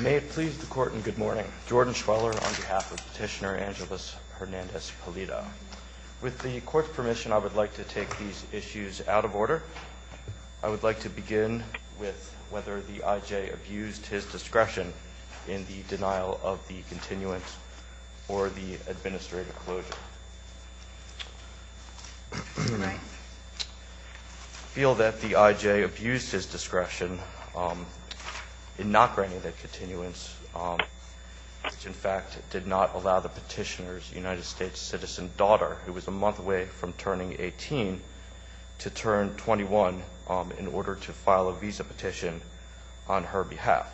May it please the Court in good morning. Jordan Schweller on behalf of Petitioner Angelus Hernandez-Pulido. With the Court's permission, I would like to take these issues out of order. I would like to begin with whether the I.J. abused his discretion in the denial of the continuance or the administrative closure. I feel that the I.J. abused his discretion in not granting the continuance, which in fact did not allow the petitioner's United States citizen daughter, who was a month away from turning 18, to turn 21 in order to file a visa petition on her behalf.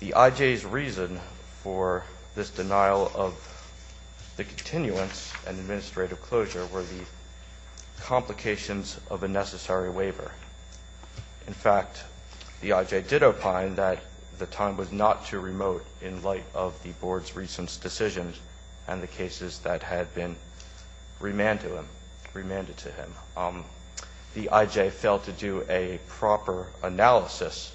The I.J.'s reason for this denial of the continuance and administrative closure were the complications of a necessary waiver. In fact, the I.J. did opine that the time was not too remote in light of the Board's recent decisions and the cases that had been remanded to him. The I.J. failed to do a proper analysis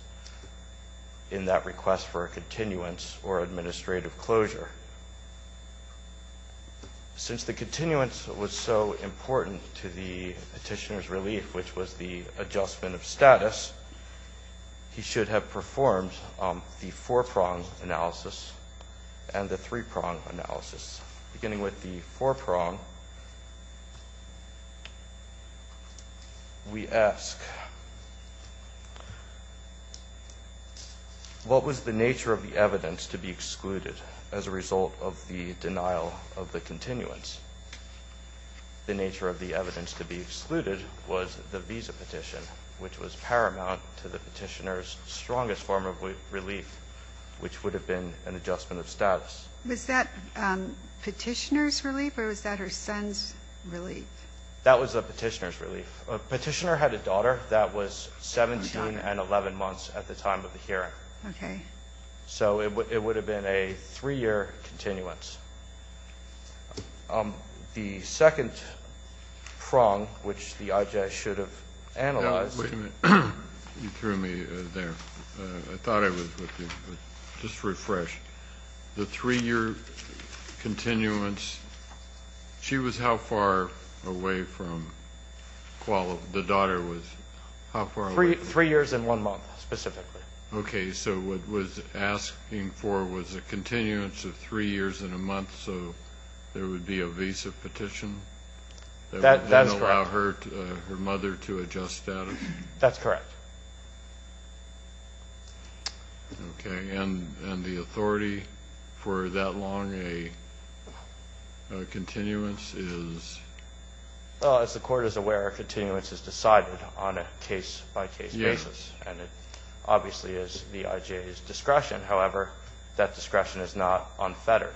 in that request for a continuance or administrative closure. Since the continuance was so important to the petitioner's relief, which was the adjustment of status, he should have performed the four-prong analysis and the three-prong analysis. Beginning with the four-prong, we ask, what was the nature of the evidence to be excluded as a result of the denial of the continuance? The nature of the evidence to be excluded was the visa petition, which was paramount to the petitioner's strongest form of relief, which would have been an adjustment of status. Was that petitioner's relief or was that her son's relief? That was the petitioner's relief. Petitioner had a daughter that was 17 and 11 months at the time of the hearing. Okay. So it would have been a three-year continuance. The second prong, which the I.J. should have analyzed. Wait a minute. You threw me there. I thought I was with you, but just refresh. The three-year continuance, she was how far away from Kuala? The daughter was how far away? Three years and one month, specifically. Okay. So what it was asking for was a continuance of three years and a month, so there would be a visa petition? That's correct. That would then allow her mother to adjust status? That's correct. Okay. And the authority for that long a continuance is? Well, as the Court is aware, a continuance is decided on a case-by-case basis. Yes. And it obviously is the I.J.'s discretion. However, that discretion is not unfettered.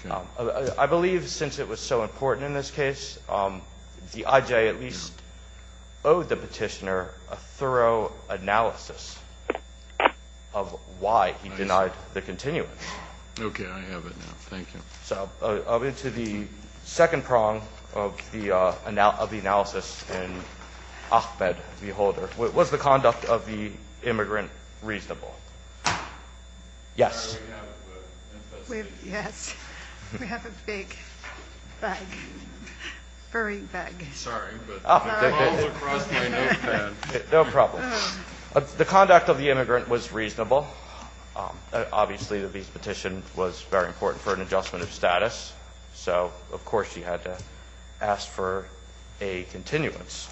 Okay. I believe since it was so important in this case, the I.J. at least owed the petitioner a thorough analysis of why he denied the continuance. Okay, I have it now. Thank you. So I'll get to the second prong of the analysis in Ahmed v. Holder. Was the conduct of the immigrant reasonable? Yes. Yes. We have a big bag, furry bag. Sorry, but it falls across my notepad. No problem. The conduct of the immigrant was reasonable. Obviously, the petition was very important for an adjustment of status. So, of course, she had to ask for a continuance.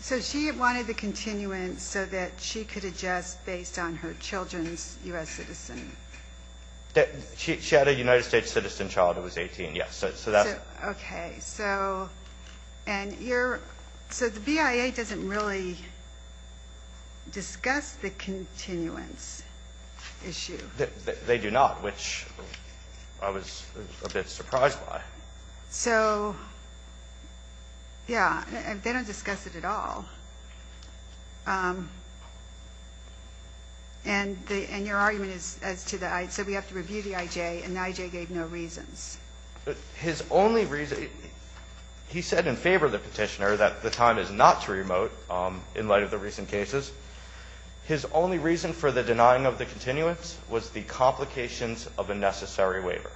So she wanted the continuance so that she could adjust based on her children's U.S. citizen. She had a United States citizen child who was 18, yes. Okay, so the BIA doesn't really discuss the continuance issue. They do not, which I was a bit surprised by. So, yeah, they don't discuss it at all. And your argument is to the right, so we have to review the I.J. and the I.J. gave no reasons. His only reason, he said in favor of the petitioner that the time is not too remote in light of the recent cases. His only reason for the denying of the continuance was the complications of a necessary waiver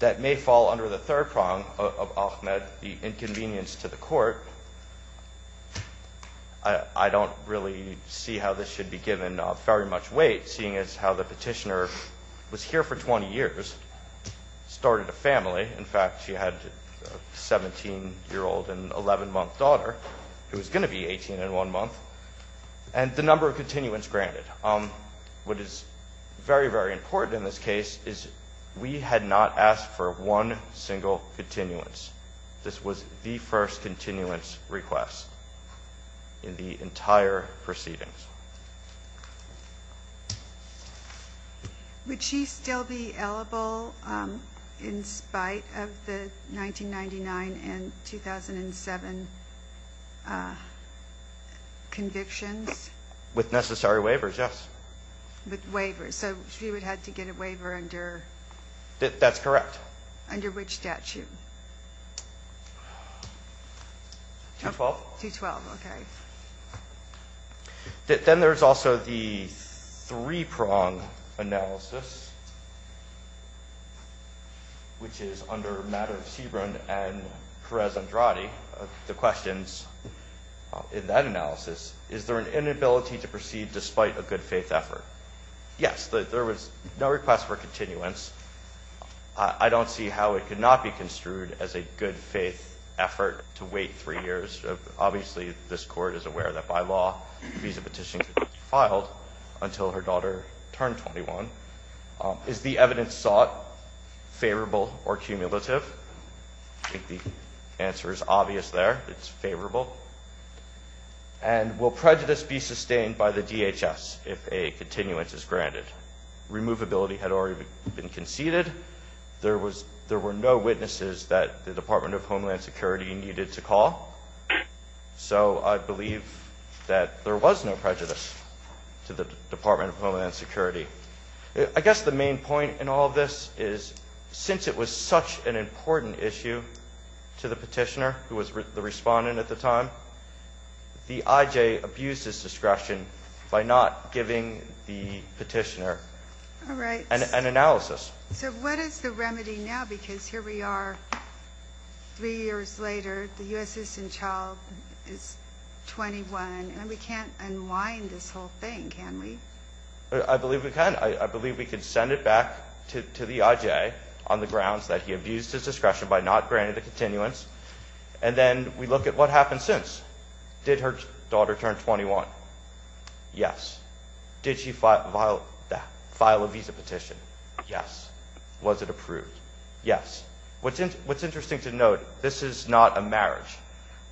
that may fall under the third prong of Ahmed, the inconvenience to the court. I don't really see how this should be given very much weight, seeing as how the petitioner was here for 20 years, started a family. In fact, she had a 17-year-old and 11-month daughter who was going to be 18 in one month, and the number of continuance granted. What is very, very important in this case is we had not asked for one single continuance. This was the first continuance request in the entire proceedings. Would she still be eligible in spite of the 1999 and 2007 convictions? With necessary waivers, yes. With waivers, so she would have to get a waiver under? That's correct. Under which statute? 212. 212, okay. Then there's also the three-prong analysis, which is under matter of Sebron and Perez-Andrade, the questions in that analysis. Is there an inability to proceed despite a good-faith effort? Yes, there was no request for continuance. I don't see how it could not be construed as a good-faith effort to wait three years. Obviously, this Court is aware that, by law, a visa petition could be filed until her daughter turned 21. Is the evidence sought favorable or cumulative? I think the answer is obvious there. It's favorable. And will prejudice be sustained by the DHS if a continuance is granted? Removability had already been conceded. There were no witnesses that the Department of Homeland Security needed to call, so I believe that there was no prejudice to the Department of Homeland Security. I guess the main point in all of this is, since it was such an important issue to the petitioner, who was the respondent at the time, the IJ abused his discretion by not giving the petitioner an analysis. So what is the remedy now? Because here we are three years later, the U.S. citizen child is 21, and we can't unwind this whole thing, can we? I believe we can. I believe we can send it back to the IJ on the grounds that he abused his discretion by not granting the continuance, and then we look at what happened since. Did her daughter turn 21? Yes. Did she file a visa petition? Yes. Was it approved? Yes. What's interesting to note, this is not a marriage,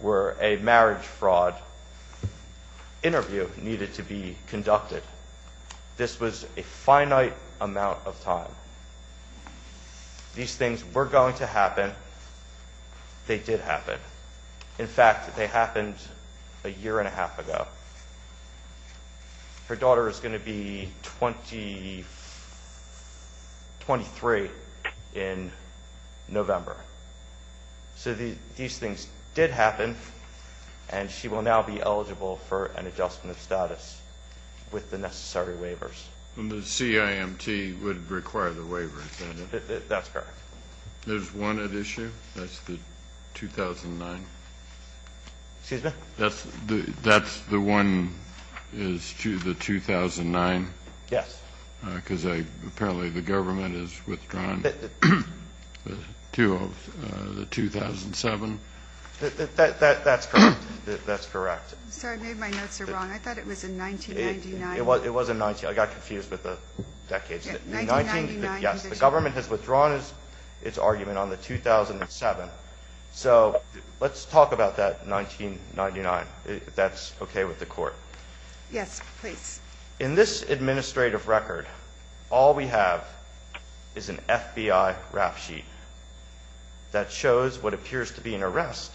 where a marriage fraud interview needed to be conducted. This was a finite amount of time. These things were going to happen. They did happen. In fact, they happened a year and a half ago. Her daughter is going to be 23 in November. So these things did happen, and she will now be eligible for an adjustment of status with the necessary waivers. And the CIMT would require the waiver, is that it? That's correct. There's one at issue. That's the 2009. Excuse me? That's the one is to the 2009? Yes. Because apparently the government has withdrawn the 2007. That's correct. That's correct. Sorry, I made my notes are wrong. I thought it was in 1999. It was in 19 19. I got confused with the decades. 1999. Yes. The government has withdrawn its argument on the 2007. So let's talk about that 1999. That's okay with the court. Yes, please. In this administrative record, all we have is an FBI rap sheet. That shows what appears to be an arrest.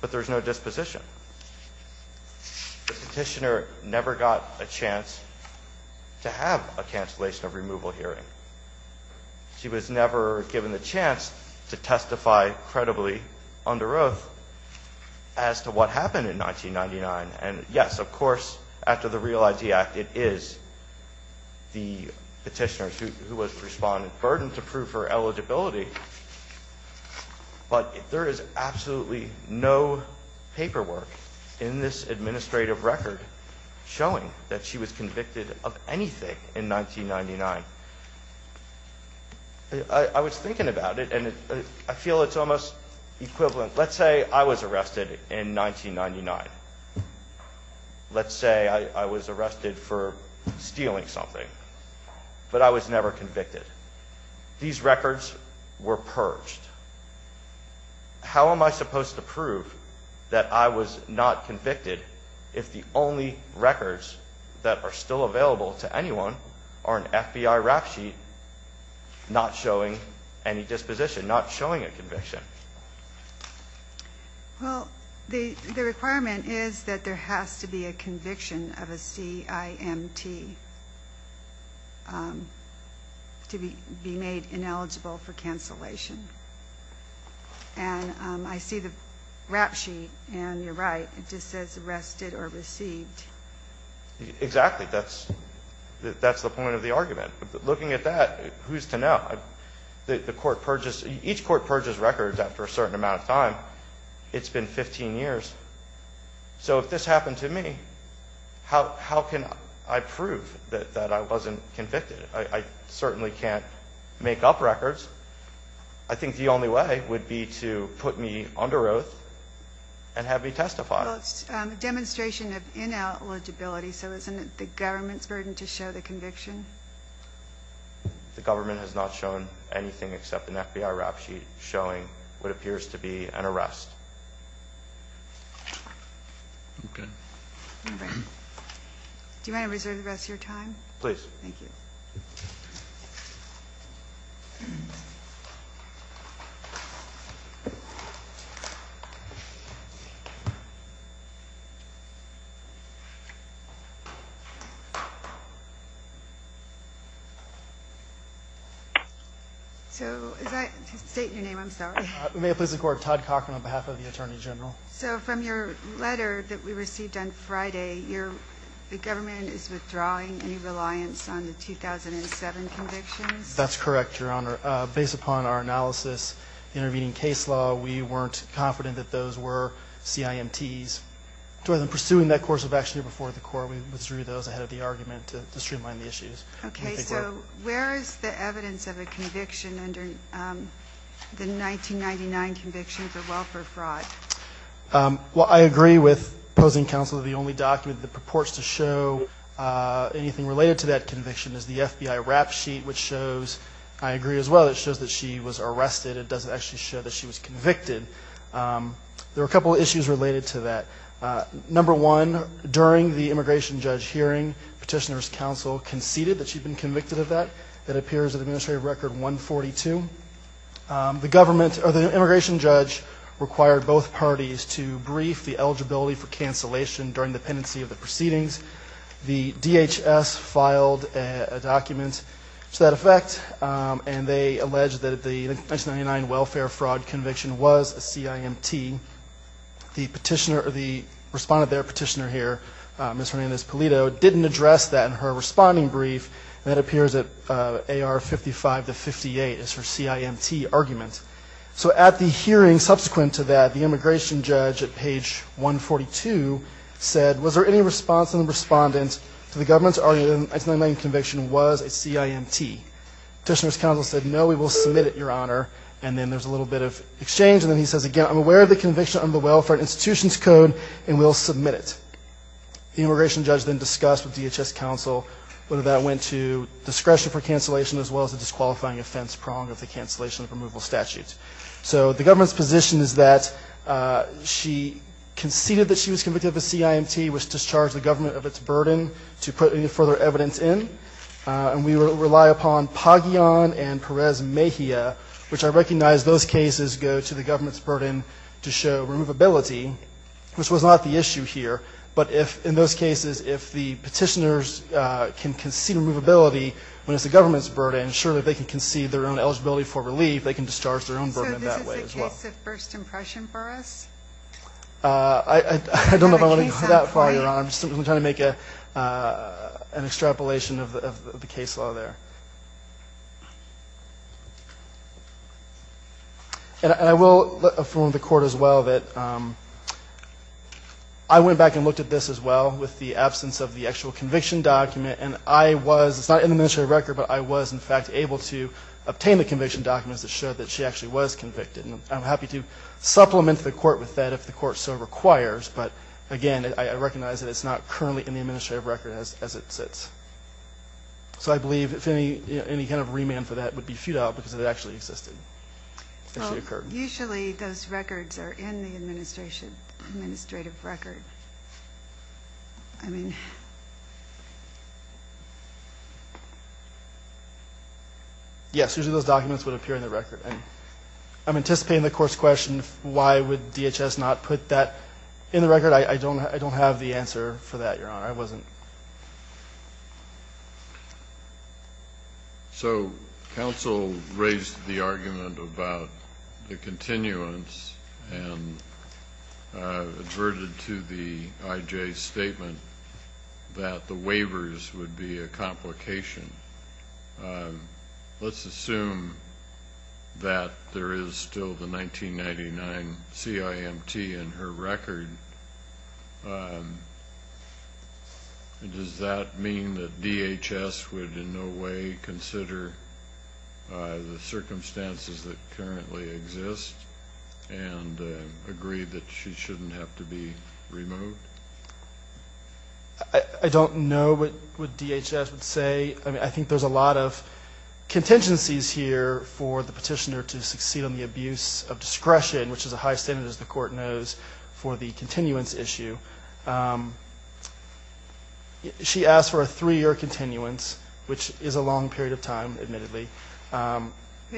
But there's no disposition. Petitioner never got a chance to have a cancellation of removal hearing. She was never given the chance to testify credibly under oath. As to what happened in 1999. And yes, of course, after the Real ID Act, it is. The petitioner who was responding burden to prove her eligibility. But there is absolutely no paperwork in this administrative record. Showing that she was convicted of anything in 1999. I was thinking about it and I feel it's almost equivalent. Let's say I was arrested in 1999. Let's say I was arrested for stealing something. But I was never convicted. These records were purged. How am I supposed to prove that I was not convicted? If the only records that are still available to anyone are an FBI rap sheet. Not showing any disposition, not showing a conviction. Well, the requirement is that there has to be a conviction of a CIMT. To be made ineligible for cancellation. And I see the rap sheet and you're right. It just says arrested or received. Exactly. That's the point of the argument. Looking at that, who's to know? Each court purges records after a certain amount of time. It's been 15 years. So if this happened to me, how can I prove that I wasn't convicted? I certainly can't make up records. I think the only way would be to put me under oath and have me testify. Well, it's a demonstration of ineligibility. So isn't it the government's burden to show the conviction? The government has not shown anything except an FBI rap sheet showing what appears to be an arrest. Do you want to reserve the rest of your time? Please. Thank you. State your name, I'm sorry. May it please the Court. Todd Cochran on behalf of the Attorney General. So from your letter that we received on Friday, the government is withdrawing any reliance on the 2007 convictions? That's correct, Your Honor. Based upon our analysis, the intervening case law, we weren't confident that those were CIMTs. Rather than pursuing that course of action here before the Court, we withdrew those ahead of the argument to streamline the issues. Okay. So where is the evidence of a conviction under the 1999 conviction for welfare fraud? Well, I agree with opposing counsel that the only document that purports to show anything related to that conviction is the FBI rap sheet, which shows, I agree as well, it shows that she was arrested. It doesn't actually show that she was convicted. There are a couple of issues related to that. Number one, during the immigration judge hearing, petitioner's counsel conceded that she'd been convicted of that. That appears in Administrative Record 142. The immigration judge required both parties to brief the eligibility for cancellation during the pendency of the proceedings. The DHS filed a document to that effect, and they alleged that the 1999 welfare fraud conviction was a CIMT. The petitioner, or the respondent there, petitioner here, Ms. Hernandez-Polito, didn't address that in her responding brief, and that appears at AR 55 to 58 as her CIMT argument. So at the hearing subsequent to that, the immigration judge at page 142 said, was there any response from the respondent to the government's argument that the 1999 conviction was a CIMT? Petitioner's counsel said, no, we will submit it, Your Honor. And then there's a little bit of exchange. And then he says, again, I'm aware of the conviction under the Welfare Institutions Code, and we'll submit it. The immigration judge then discussed with DHS counsel whether that went to discretion for cancellation as well as a disqualifying offense prong of the cancellation of removal statute. So the government's position is that she conceded that she was convicted of a CIMT, which discharged the government of its burden to put any further evidence in. And we rely upon Paggion and Perez-Mejia, which I recognize those cases go to the government's burden to show removability, which was not the issue here. But in those cases, if the petitioners can concede removability when it's the government's burden, surely they can concede their own eligibility for relief. They can discharge their own burden that way as well. So this is a case of first impression for us? I don't know if I want to go that far, Your Honor. I'm just trying to make an extrapolation of the case law there. And I will affirm with the Court as well that I went back and looked at this as well with the absence of the actual conviction document, and I was, it's not in the administrative record, but I was in fact able to obtain the conviction documents that showed that she actually was convicted. And I'm happy to supplement the Court with that if the Court so requires, but again, I recognize that it's not currently in the administrative record as it sits. So I believe if any kind of remand for that would be futile because it actually existed, actually occurred. Well, usually those records are in the administrative record. I mean... Yes, usually those documents would appear in the record. I'm anticipating the Court's question, why would DHS not put that in the record? I don't have the answer for that, Your Honor. I wasn't... So counsel raised the argument about the continuance and adverted to the IJ statement that the waivers would be a complication. Let's assume that there is still the 1999 CIMT in her record. Does that mean that DHS would in no way consider the circumstances that currently exist and agree that she shouldn't have to be removed? I don't know what DHS would say. I mean, I think there's a lot of contingencies here for the petitioner to succeed on the abuse of discretion, which is a high standard, as the Court knows, for the continuance issue. She asked for a three-year continuance, which is a long period of time, admittedly. But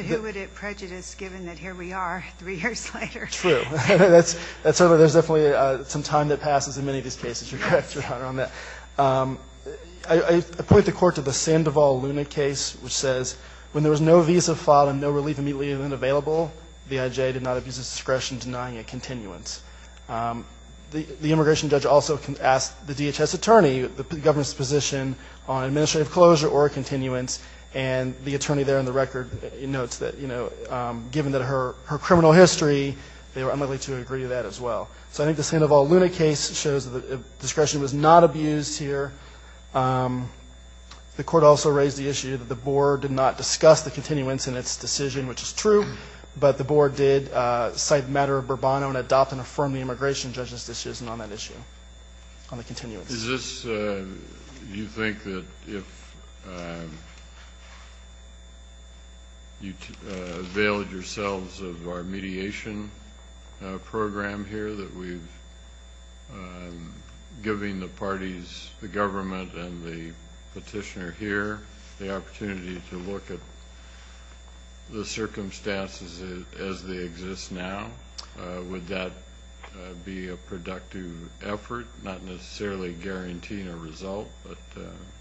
who would it prejudice, given that here we are three years later? True. That's certainly, there's definitely some time that passes in many of these cases, Your Honor, on that. I point the Court to the Sandoval-Luna case, which says when there was no visa filed and no relief immediately available, the IJ did not abuse its discretion denying a continuance. The immigration judge also asked the DHS attorney the government's position on administrative closure or a continuance, and the attorney there in the record notes that, you know, given her criminal history, they were unlikely to agree to that as well. So I think the Sandoval-Luna case shows that discretion was not abused here. The Court also raised the issue that the Board did not discuss the continuance in its decision, which is true, but the Board did cite the matter of Bourbon and adopt and affirm the immigration judge's decision on that issue, on the continuance. Is this, do you think that if you availed yourselves of our mediation program here, that we've given the parties, the government and the petitioner here, the opportunity to look at the circumstances as they exist now? Would that be a productive effort, not necessarily guaranteeing a result, but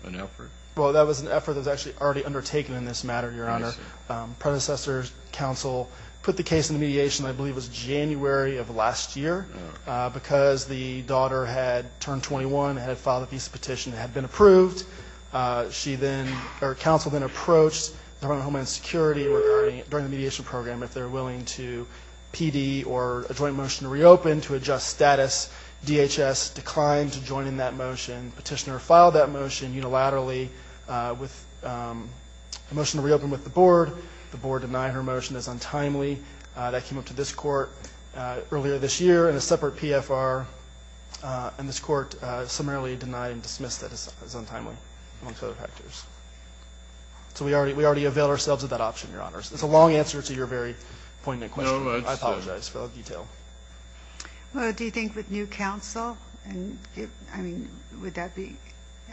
an effort? Well, that was an effort that was actually already undertaken in this matter, Your Honor. Predecessor's counsel put the case into mediation, I believe it was January of last year, because the daughter had turned 21, had filed a visa petition, had been approved. She then, or counsel then approached the Department of Homeland Security regarding, during the mediation program, if they're willing to PD or a joint motion to reopen to adjust status. DHS declined to join in that motion. Petitioner filed that motion unilaterally with a motion to reopen with the Board. The Board denied her motion as untimely. That came up to this Court earlier this year in a separate PFR, and this Court summarily denied and dismissed it as untimely, amongst other factors. So we already availed ourselves of that option, Your Honor. It's a long answer to your very poignant question. I apologize for the detail. Well, do you think with new counsel, I mean, would that be,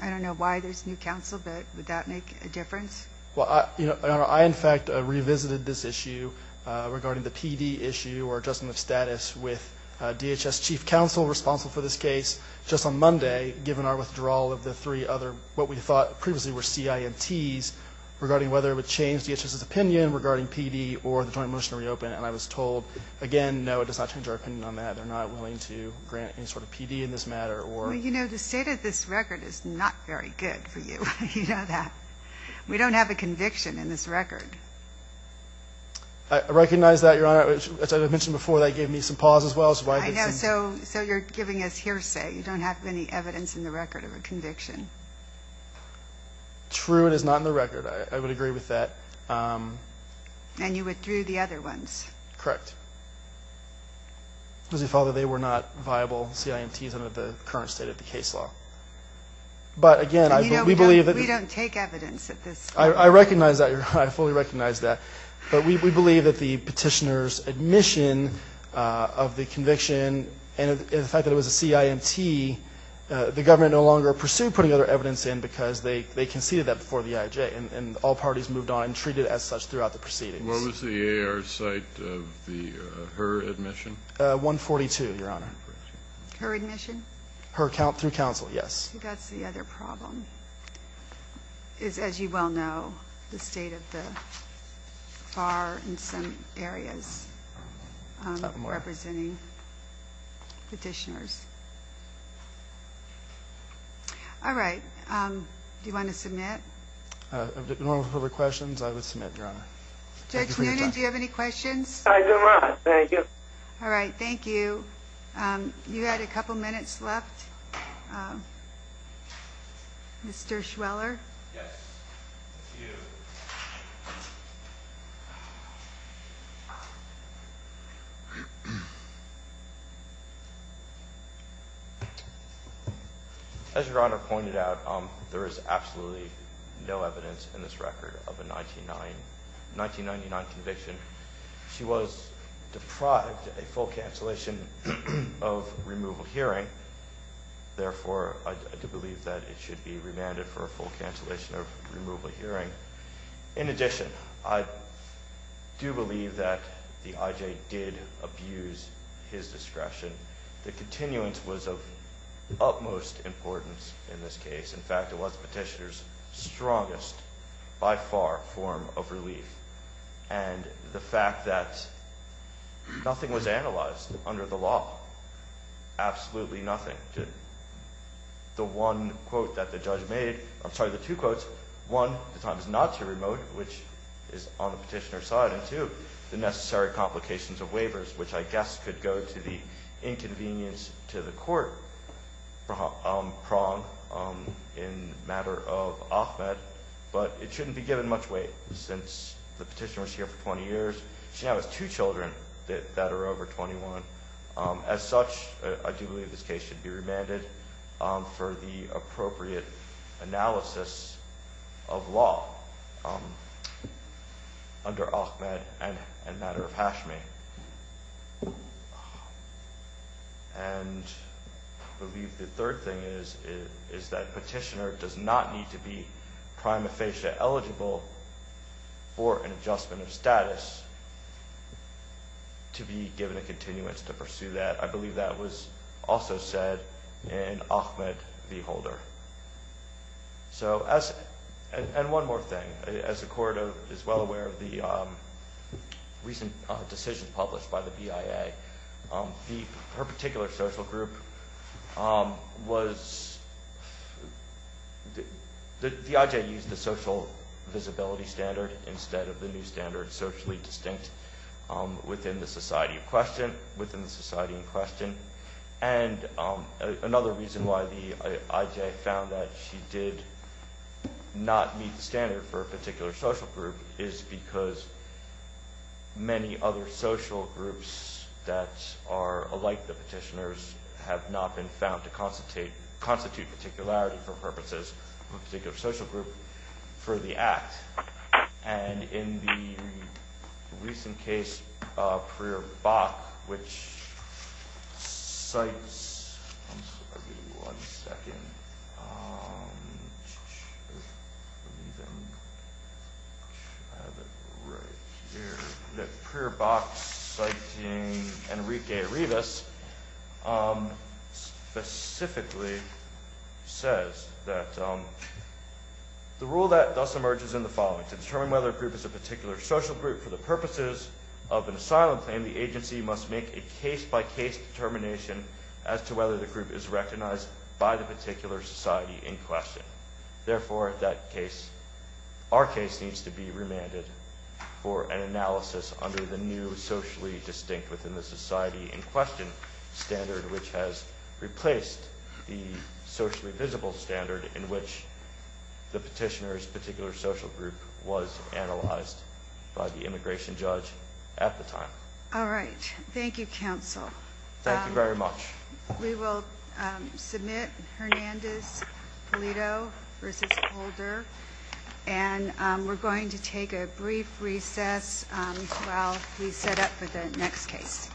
I don't know why there's new counsel, but would that make a difference? Well, Your Honor, I, in fact, revisited this issue regarding the PD issue or adjustment of status with DHS chief counsel responsible for this case just on Monday, given our withdrawal of the three other what we thought previously were CINTs, regarding whether it would change DHS's opinion regarding PD or the joint motion to reopen. And I was told, again, no, it does not change our opinion on that. They're not willing to grant any sort of PD in this matter. Well, you know, the state of this record is not very good for you. You know that. We don't have a conviction in this record. I recognize that, Your Honor. As I mentioned before, that gave me some pause as well. I know. So you're giving us hearsay. You don't have any evidence in the record of a conviction. True. It is not in the record. I would agree with that. And you withdrew the other ones. Correct. Because we felt that they were not viable CINTs under the current state of the case law. But, again, we believe that we don't take evidence at this point. I recognize that, Your Honor. I fully recognize that. But we believe that the petitioner's admission of the conviction and the fact that it was a CINT, the government no longer pursued putting other evidence in because they conceded that before the IHA. And all parties moved on and treated it as such throughout the proceedings. What was the AAR's site of her admission? 142, Your Honor. Her admission? Her account through counsel, yes. That's the other problem is, as you well know, the state of the FAR in some areas representing petitioners. All right. Do you want to submit? No further questions. I would submit, Your Honor. Judge Noonan, do you have any questions? All right. Thank you. You had a couple minutes left. Mr. Schweller? Yes. Thank you. As Your Honor pointed out, there is absolutely no evidence in this record of a 1999 conviction. She was deprived a full cancellation of removal hearing. Therefore, I do believe that it should be remanded for a full cancellation of removal hearing. In addition, I do believe that the IJ did abuse his discretion. The continuance was of utmost importance in this case. In fact, it was the petitioner's strongest, by far, form of relief. And the fact that nothing was analyzed under the law, absolutely nothing. The one quote that the judge made, I'm sorry, the two quotes, one, the time is not too remote, which is on the petitioner's side. Two, the necessary complications of waivers, which I guess could go to the inconvenience to the court prong in matter of Ahmed, but it shouldn't be given much weight since the petitioner was here for 20 years. She now has two children that are over 21. As such, I do believe this case should be remanded for the appropriate analysis of law under Ahmed and matter of Hashmi. And I believe the third thing is that petitioner does not need to be prima facie eligible for an adjustment of status to be given a continuance to pursue that. I believe that was also said in Ahmed v. Holder. And one more thing, as the court is well aware of the recent decision published by the BIA, her particular social group was, the IJ used the social visibility standard instead of the new standard which is socially distinct within the society in question. And another reason why the IJ found that she did not meet the standard for a particular social group is because many other social groups that are alike the petitioners have not been found to constitute particularity for purposes of a particular social group for the act. And in the recent case of Prier-Bach which cites, give me one second. Prier-Bach citing Enrique Revis specifically says that the rule that thus emerges in the following, to determine whether a group is a particular social group for the purposes of an asylum claim, the agency must make a case by case determination as to whether the group is recognized by the particular society in question. Therefore, that case, our case needs to be remanded for an analysis under the new socially distinct within the society in question standard which has replaced the socially visible standard in which the petitioner's particular social group was analyzed by the immigration judge at the time. Thank you very much. We will submit Hernandez-Polito versus Holder and we're going to take a brief recess while we set up for the next case.